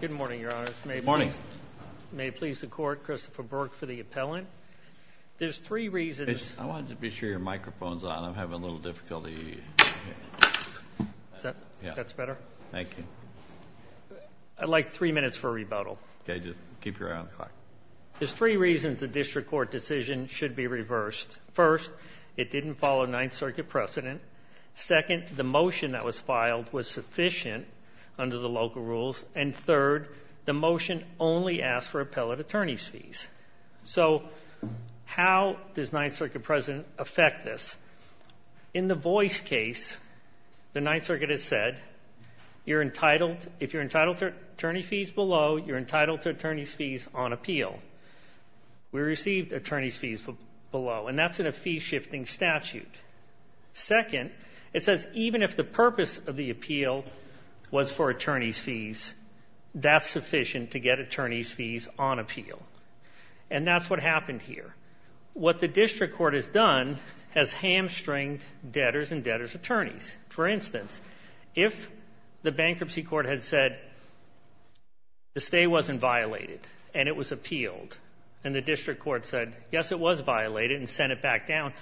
Good morning, Your Honors. Good morning. May it please the Court, Christopher Burke for the appellant. There's three reasons. I wanted to be sure your microphone's on. I'm having a little difficulty. That's better? Thank you. I'd like three minutes for a rebuttal. Okay, just keep your eye on the clock. There's three reasons the District Court decision should be reversed. First, it didn't follow Ninth Circuit precedent. Second, the motion that was filed was sufficient under the local rules. And third, the motion only asked for appellate attorney's fees. So how does Ninth Circuit precedent affect this? In the voice case, the Ninth Circuit has said, you're entitled, if you're entitled to attorney fees below, you're entitled to attorney's fees on appeal. We received attorney's fees below, and that's in a fee-shifting statute. Second, it says even if the purpose of the appeal was for attorney's fees, that's sufficient to get attorney's fees on appeal. And that's what happened here. What the District Court has done has hamstringed debtors and debtors' attorneys. For instance, if the bankruptcy court had said the stay wasn't violated and it was appealed, and the District Court said, yes, it was back down,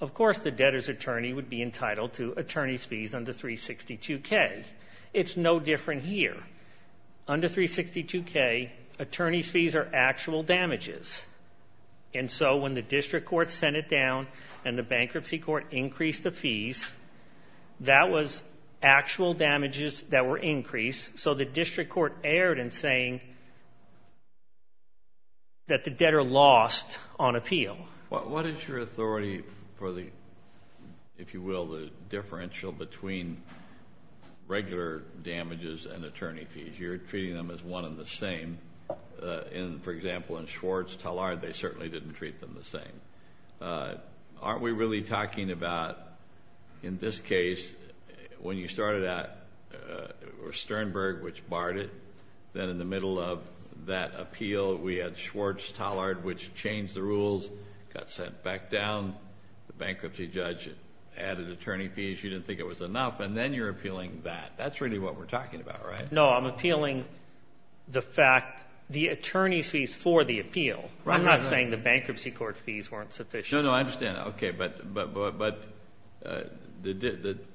of course the debtor's attorney would be entitled to attorney's fees under 362K. It's no different here. Under 362K, attorney's fees are actual damages. And so when the District Court sent it down and the bankruptcy court increased the fees, that was actual damages that were increased. So the District Court erred in saying that the debtor lost on appeal. What is your authority for the, if you will, the differential between regular damages and attorney fees? You're treating them as one and the same. For example, in Schwartz-Tallard, they certainly didn't treat them the same. Aren't we really talking about, in this case, when you started out, it was Sternberg which barred it. Then in the middle of that appeal, we had Schwartz- Tallard, got sent back down. The bankruptcy judge added attorney fees. You didn't think it was enough. And then you're appealing that. That's really what we're talking about, right? No, I'm appealing the fact, the attorney's fees for the appeal. I'm not saying the bankruptcy court fees weren't sufficient. No, no, I understand. Okay. But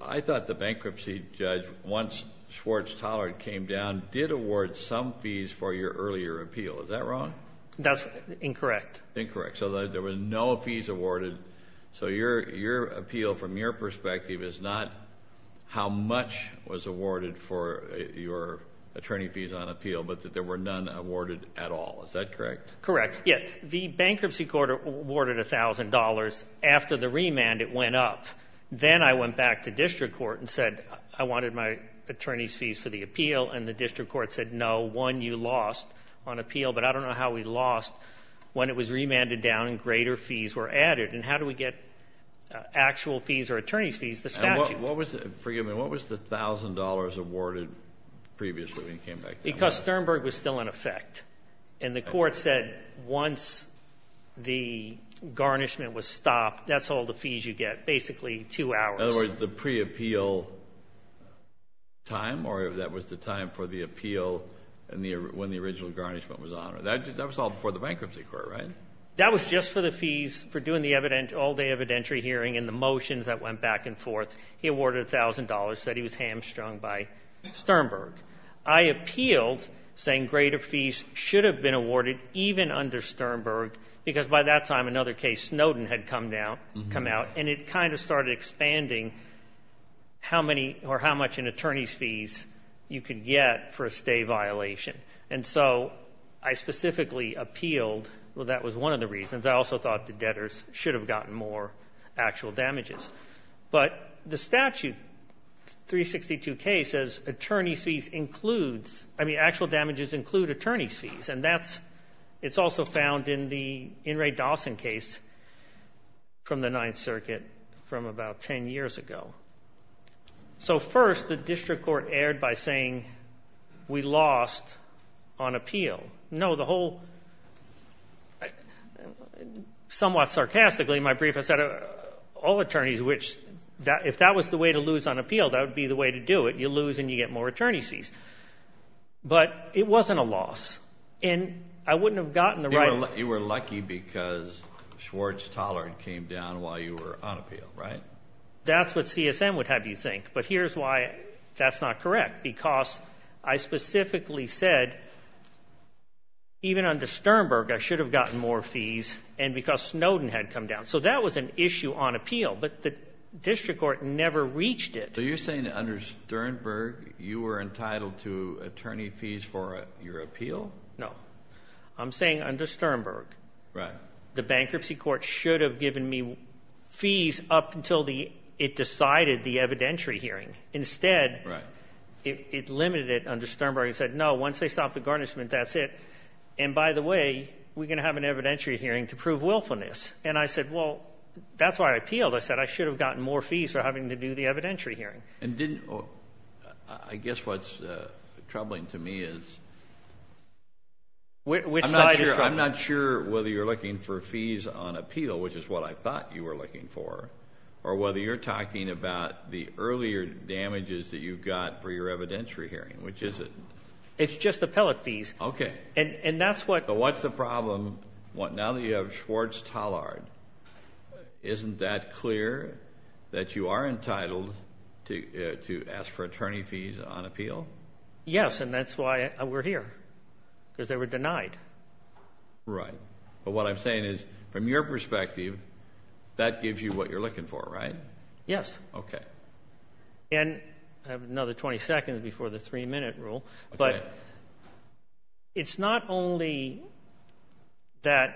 I thought the bankruptcy judge, once Schwartz-Tallard came down, did award some fees for your earlier appeal. Is that wrong? That's incorrect. Incorrect. So there were no fees awarded. So your appeal, from your perspective, is not how much was awarded for your attorney fees on appeal, but that there were none awarded at all. Is that correct? Correct. Yeah. The bankruptcy court awarded $1,000. After the remand, it went up. Then I went back to district court and said I wanted my attorney's fees for the appeal. And the district court said no, one you lost on appeal. But I don't know how we lost when it was remanded down and greater fees were added. And how do we get actual fees or attorney's fees? The statute. What was the, forgive me, what was the $1,000 awarded previously when you came back down? Because Sternberg was still in effect. And the court said once the garnishment was stopped, that's all the fees you get. Basically, two hours. In other words, the that was the time for the appeal and when the original garnishment was honored. That was all before the bankruptcy court, right? That was just for the fees for doing the all-day evidentiary hearing and the motions that went back and forth. He awarded $1,000, said he was hamstrung by Sternberg. I appealed saying greater fees should have been awarded even under Sternberg, because by that time another case, Snowden, had come out. And it kind of started expanding how many or how much in attorney's fees you could get for a stay violation. And so I specifically appealed. Well, that was one of the reasons. I also thought the debtors should have gotten more actual damages. But the statute 362K says attorney's fees includes, I mean, actual damages include attorney's fees. And that's, it's also found in the In re Dawson case from the Ninth Circuit from about 10 years ago. So first, the district court erred by saying we lost on appeal. No, the whole, somewhat sarcastically, my brief, I said, all attorneys, which that if that was the way to lose on appeal, that would be the way to do it. You lose and you get more attorney's fees. But it wasn't a loss. And I wouldn't have gotten the right. You were lucky because Schwartz-Tollard came down while you were on appeal, right? That's what CSM would have you think. But here's why that's not correct. Because I specifically said, even under Sternberg, I should have gotten more fees. And because Snowden had come down. So that was an issue on appeal. But the district court never reached it. So you're saying under Sternberg, you were right. The bankruptcy court should have given me fees up until the it decided the evidentiary hearing. Instead, it limited it under Sternberg and said, no, once they stopped the garnishment, that's it. And by the way, we're gonna have an evidentiary hearing to prove willfulness. And I said, well, that's why I appealed. I said I should have gotten more fees for having to do the evidentiary hearing. And didn't I guess what's troubling to me is which side? I'm not sure whether you're looking for fees on appeal, which is what I thought you were looking for. Or whether you're talking about the earlier damages that you've got for your evidentiary hearing, which is it? It's just the pellet fees. Okay. And that's what? What's the problem? What? Now that you have Schwartz-Tollard, isn't that clear that you are entitled to ask for attorney fees on appeal? Yes. And that's why we're here. Because they were denied. Right. But what I'm saying is, from your perspective, that gives you what you're looking for, right? Yes. Okay. And I have another 20 seconds before the three-minute rule. But it's not only that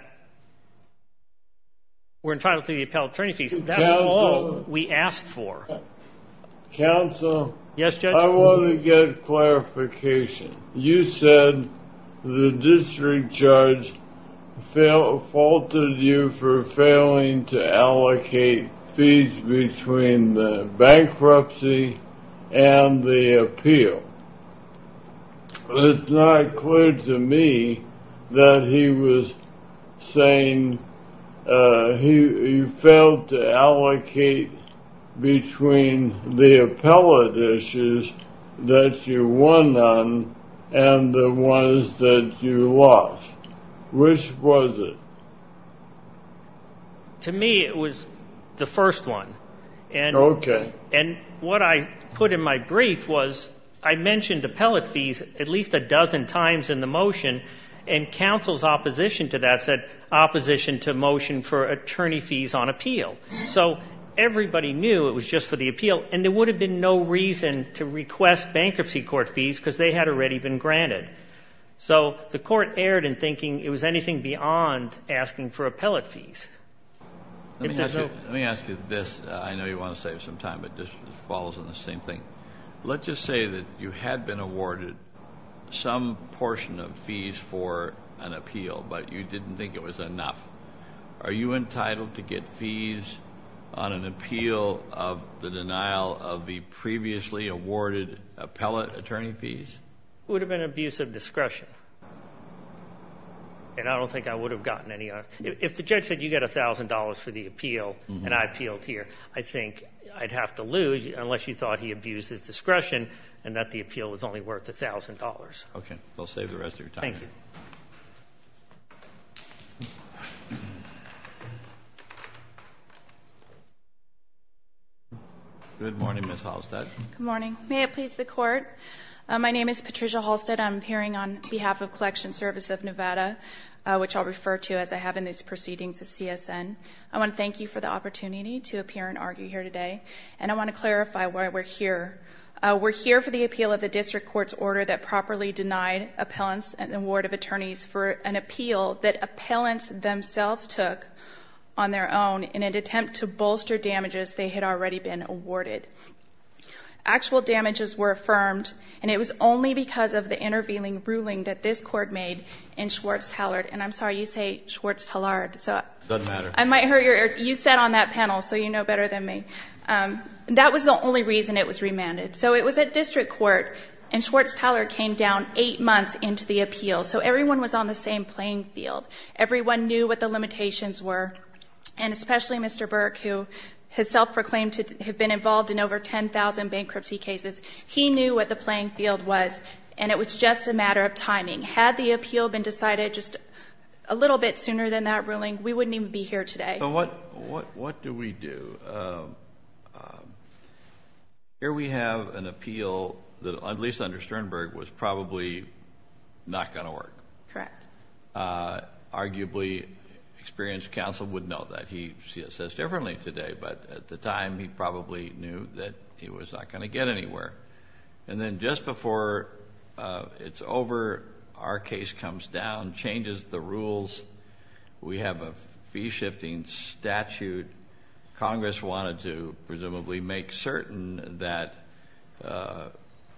we're entitled to the appellate attorney fees. That's all we asked for. Counsel? Yes, Judge? I want to get clarification. You said the district judge faulted you for failing to allocate fees between the bankruptcy and the appeal. It's not clear to me that he was saying you failed to allocate between the appellate issues that you won on and the ones that you lost. Which was it? To me, it was the first one. Okay. And what I put in my brief was, I mentioned appellate fees at least a dozen times in the motion, and counsel's opposition to that said, opposition to motion for appeal. So everybody knew it was just for the appeal. And there would have been no reason to request bankruptcy court fees, because they had already been granted. So the court erred in thinking it was anything beyond asking for appellate fees. Let me ask you this. I know you want to save some time, but this falls on the same thing. Let's just say that you had been awarded some portion of fees for an appeal, but you didn't think it was enough. Are you entitled to get fees on an appeal of the denial of the previously awarded appellate attorney fees? It would have been an abuse of discretion. And I don't think I would have gotten any. If the judge said you get $1,000 for the appeal and I appealed here, I think I'd have to lose, unless you thought he abused his discretion and that the appeal was only worth $1,000. Okay. Good morning, Ms. Halstead. Good morning. May it please the court. My name is Patricia Halstead. I'm appearing on behalf of Collection Service of Nevada, which I'll refer to as I have in these proceedings as CSN. I want to thank you for the opportunity to appear and argue here today. And I want to clarify why we're here. We're here for the appeal of the district court's order that properly denied appellants and the award of attorneys for an appeal that on their own, in an attempt to bolster damages, they had already been awarded. Actual damages were affirmed, and it was only because of the interviewing ruling that this court made in Schwartz-Tallard. And I'm sorry, you say Schwartz-Tallard. It doesn't matter. I might hurt your... You sat on that panel, so you know better than me. That was the only reason it was remanded. So it was a district court, and Schwartz-Tallard came down eight months into the appeal. So everyone was on the same playing field. Everyone knew what the limitations were, and especially Mr. Burke, who has self proclaimed to have been involved in over 10,000 bankruptcy cases. He knew what the playing field was, and it was just a matter of timing. Had the appeal been decided just a little bit sooner than that ruling, we wouldn't even be here today. So what do we do? Here we have an appeal that, at least under Sternberg, was probably not gonna work. Correct. Arguably, experienced counsel would know that. He sees this differently today, but at the time, he probably knew that he was not gonna get anywhere. And then just before it's over, our case comes down, changes the rules. We have a fee shifting statute. Congress wanted to, presumably, make certain that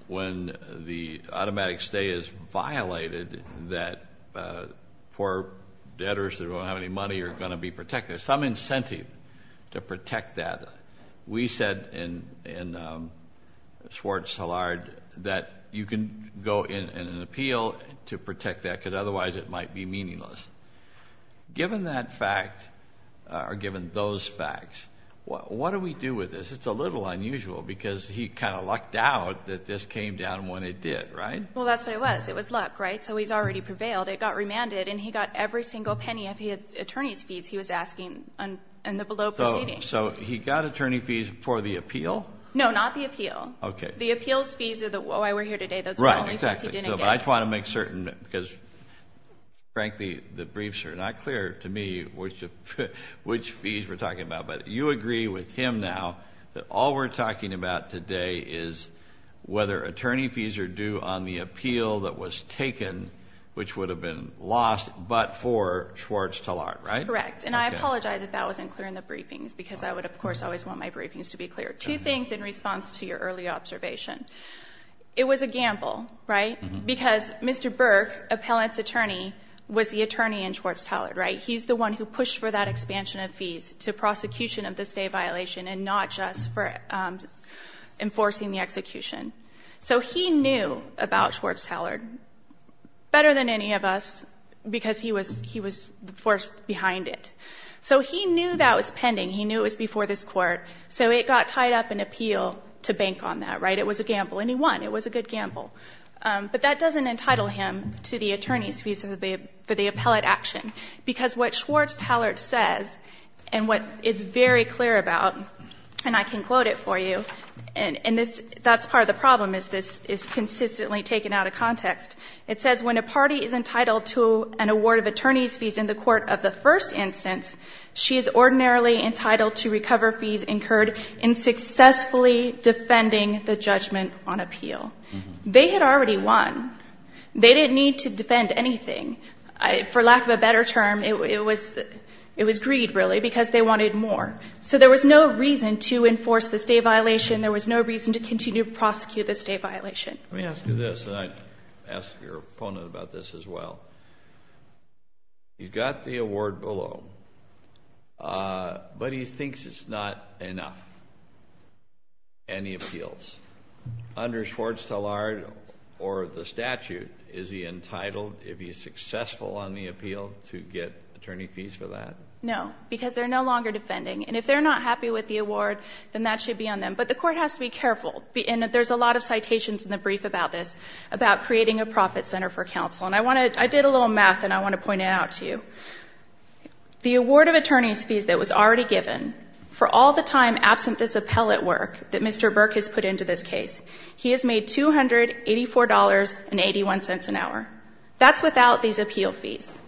when the automatic stay is violated, that poor debtors that don't have any money are gonna be protected. There's some incentive to protect that. We said in Schwartz-Tallard that you can go in an appeal to protect that, because otherwise it might be meaningless. Given that fact, or given those facts, what do we do with this? It's a little unusual, because he kind of lucked out that this came down when it did, right? Well, that's what it was. It was luck, right? So he's already prevailed. It got remanded, and he got every single penny of his attorney's fees he was asking in the below proceeding. So he got attorney fees for the appeal? No, not the appeal. Okay. The appeal's fees are the... Oh, I were here today. Those are the only fees he didn't get. Right, exactly. But I just wanna make certain, because, frankly, the briefs are not clear to me which fees we're talking about. But you agree with him now that all we're talking about today is whether attorney fees are due on the appeal that was taken, which would have been lost, but for Schwartz-Tallard, right? Correct. And I apologize if that wasn't clear in the briefings, because I would, of course, always want my briefings to be clear. Two things in response to your early observation. It was a gamble, right? Because Mr. Burke, appellant's attorney, was the one who pushed for that expansion of fees to prosecution of the stay violation and not just for enforcing the execution. So he knew about Schwartz-Tallard better than any of us, because he was forced behind it. So he knew that was pending. He knew it was before this court. So it got tied up in appeal to bank on that, right? It was a gamble, and he won. It was a good gamble. But that doesn't entitle him to the attorney's fees for the appellate action. Because what Schwartz-Tallard says, and what it's very clear about, and I can quote it for you, and this, that's part of the problem is this is consistently taken out of context. It says, When a party is entitled to an award of attorney's fees in the court of the first instance, she is ordinarily entitled to recover fees incurred in successfully defending the judgment on appeal. They had already won. They didn't need to defend anything. For lack of a better term, it was greed, really, because they wanted more. So there was no reason to enforce the stay violation. There was no reason to continue to prosecute the stay violation. Let me ask you this, and I'd ask your opponent about this as well. You got the award below, but he thinks it's not enough. Any appeals under Schwartz-Tallard or the statute, is he entitled, if he's successful on the appeal, to get attorney fees for that? No, because they're no longer defending. And if they're not happy with the award, then that should be on them. But the court has to be careful. And there's a lot of citations in the brief about this, about creating a profit center for counsel. And I want to, I did a little math and I want to point it out to you. The award of attorney's fees that was already given for all the time absent this appellate work that Mr. Burke has put into this case, he has made $284.81 an hour. That's without these appeal fees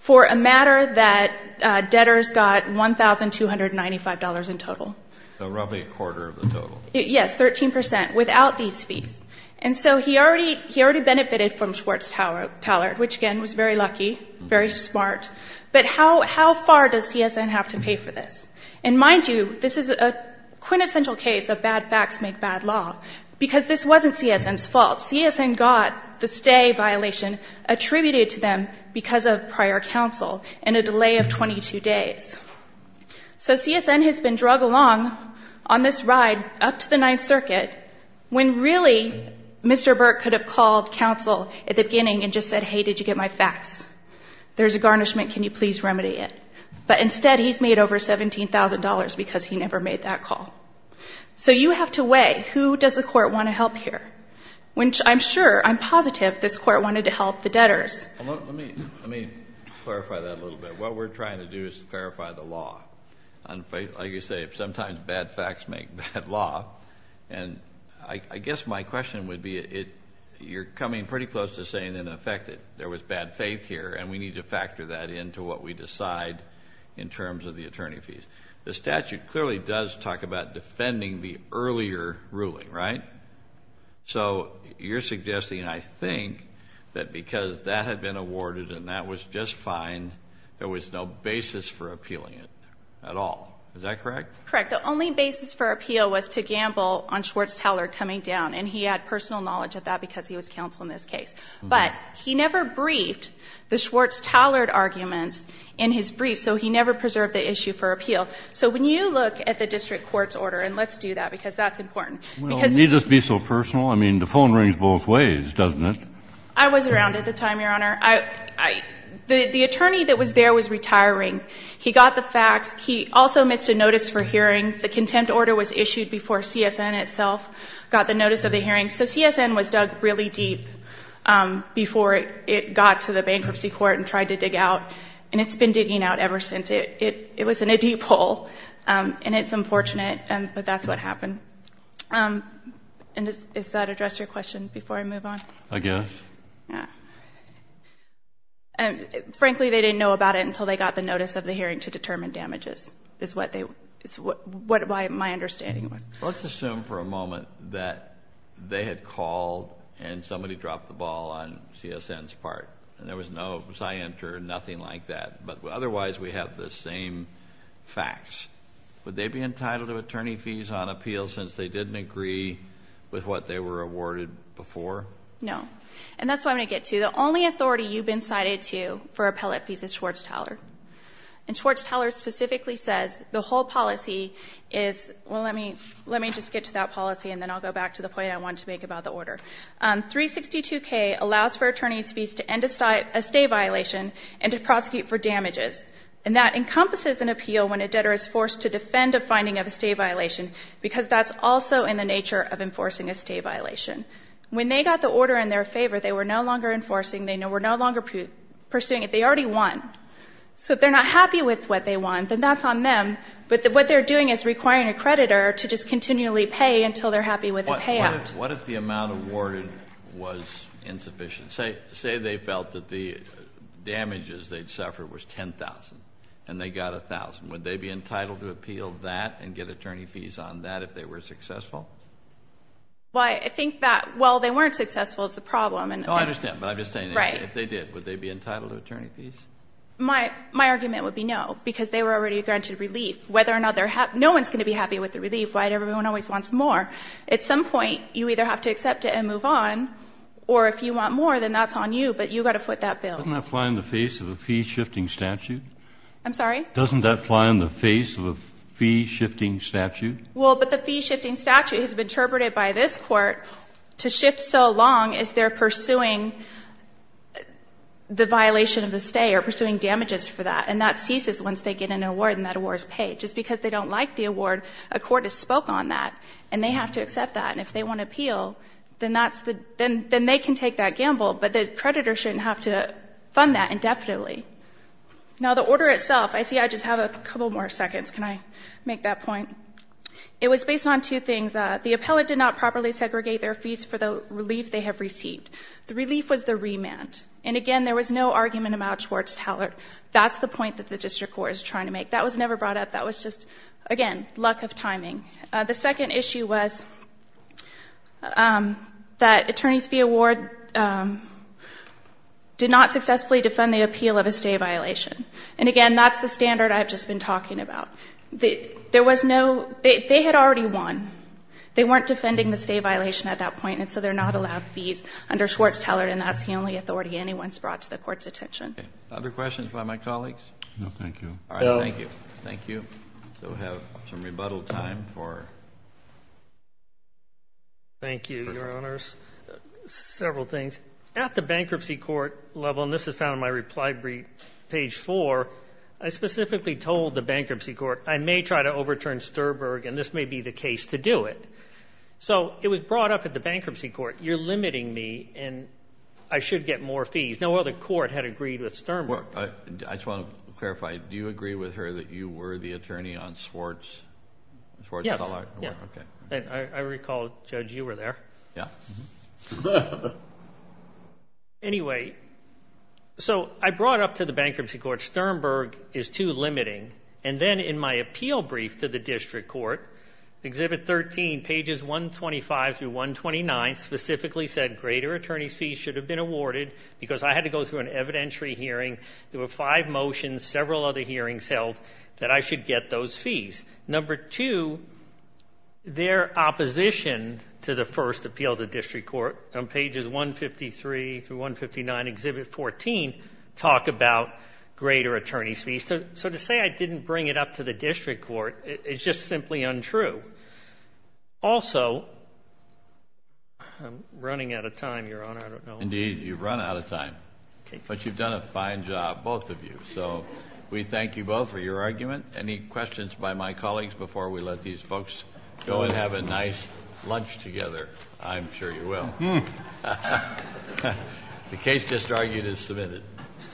for a matter that debtors got $1,295 in total. So roughly a quarter of the total. Yes. 13% without these fees. And so he already, he already benefited from Schwartz-Tallard, which again, was very lucky, very smart. But how, how far does CSN have to pay for this? And mind you, this is a quintessential case of bad facts make bad law, because this wasn't CSN's fault. CSN got the stay violation attributed to them because of prior counsel and a delay of 22 days. So CSN has been drug along on this ride up to the ninth circuit when really Mr. Burke could have called counsel at the beginning and just said, Hey, did you get my facts? There's a garnishment. Can you please remedy it? But instead he's made over $17,000 because he never made that call. So you have to weigh who does the court want to help here? Which I'm sure, I'm positive this court wanted to help the debtors. Let me, let me clarify that a little bit. What we're trying to do is clarify the law. Like you say, sometimes bad facts make bad law. And I guess my question would be, you're coming pretty close to saying in effect that there was bad faith here and we need to factor that into what we decide in terms of the attorney fees. The statute clearly does talk about defending the earlier ruling, right? So you're suggesting, and I think that because that had been awarded and that was just fine, there was no basis for appealing it at all. Is that correct? Correct. The only basis for appeal was to gamble on Schwartz-Tallard coming down. And he had personal knowledge of that because he was counsel in this case. But he never briefed the Schwartz-Tallard arguments in his brief. So he never preserved the issue for appeal. So when you look at the district court's order, and let's do that because that's be so personal. I mean, the phone rings both ways, doesn't it? I was around at the time, Your Honor. I, I, the, the attorney that was there was retiring. He got the facts. He also missed a notice for hearing. The contempt order was issued before CSN itself got the notice of the hearing. So CSN was dug really deep before it got to the bankruptcy court and tried to dig out, and it's been digging out ever since it, it, it was in a deep hole and it's unfortunate, but that's what happened. Um, and is, is that address your question before I move on? I guess. Yeah. And frankly, they didn't know about it until they got the notice of the hearing to determine damages is what they, is what, what my understanding was. Let's assume for a moment that they had called and somebody dropped the ball on CSN's part and there was no, was I enter, nothing like that, but otherwise we have the same facts. Would they be entitled to attorney fees on appeal since they didn't agree with what they were awarded before? No. And that's what I'm going to get to. The only authority you've been cited to for appellate fees is Schwartz-Teller. And Schwartz-Teller specifically says the whole policy is, well, let me, let me just get to that policy and then I'll go back to the point I wanted to make about the order. Um, 362K allows for attorney's fees to end a state, a state violation and to prosecute for damages. And that encompasses an appeal when a debtor is forced to defend a finding of a state violation, because that's also in the nature of enforcing a state violation. When they got the order in their favor, they were no longer enforcing. They were no longer pursuing it. They already won. So if they're not happy with what they want, then that's on them. But what they're doing is requiring a creditor to just continually pay until they're happy with the payout. What if the amount awarded was insufficient? Say, say they felt that the damages they'd suffered was 10,000 and they got a thousand. Would they be entitled to appeal that and get attorney fees on that if they were successful? Well, I think that, well, they weren't successful is the problem. Oh, I understand. But I'm just saying, if they did, would they be entitled to attorney fees? My, my argument would be no, because they were already granted relief. Whether or not they're happy, no one's going to be happy with the relief, right? Everyone always wants more. At some point you either have to accept it and move on, or if you want more, then that's on you, but you got to foot that bill. Doesn't that fly in the face of a fee shifting statute? I'm sorry? Doesn't that fly in the face of a fee shifting statute? Well, but the fee shifting statute has been interpreted by this court to shift so long as they're pursuing the violation of the stay or pursuing damages for that. And that ceases once they get an award and that award is paid. Just because they don't like the award, a court has spoke on that and they have to accept that. And if they want to appeal, then that's the, then, then they can take that gamble, but the creditor shouldn't have to fund that indefinitely. Now the order itself, I see I just have a couple more seconds. Can I make that point? It was based on two things. The appellate did not properly segregate their fees for the relief they have received. The relief was the remand. And again, there was no argument about Schwartz-Tallert. That's the point that the district court is trying to make. That was never brought up. That was just, again, lack of timing. The second issue was that attorneys fee award did not successfully defend the appeal of a stay violation. And again, that's the standard I've just been talking about. There was no, they had already won. They weren't defending the stay violation at that point. And so they're not allowed fees under Schwartz-Tallert. And that's the only authority anyone's brought to the court's attention. Other questions by my colleagues? No, thank you. All right. Thank you. Thank you. So we have some rebuttal time for. Thank you, your honors. Several things. At the bankruptcy court level, and this is found in my reply brief, page four, I specifically told the bankruptcy court, I may try to overturn Sturberg and this may be the case to do it. So it was brought up at the bankruptcy court. You're limiting me and I should get more fees. No other court had agreed with Sturberg. I just want to clarify. Do you agree with her that you were the attorney on Schwartz-Tallert? Yeah. Okay. And I recall, Judge, you were there. Yeah. Anyway, so I brought up to the bankruptcy court, Sturberg is too limiting. And then in my appeal brief to the district court, exhibit 13, pages 125 through 129, specifically said greater attorney's fees should have been awarded because I had to go through an evidentiary hearing. There were five motions, several other hearings held that I should get those fees. Number two, their opposition to the first appeal to district court on pages 153 through 159, exhibit 14, talk about greater attorney's fees. So to say I didn't bring it up to the district court, it's just simply untrue. Also, I'm running out of time, your honor. I don't know. Indeed, you've run out of time, but you've done a fine job, both of you. So we thank you both for your argument. Any questions by my colleagues before we let these folks go and have a nice lunch together? I'm sure you will. The case just argued is submitted.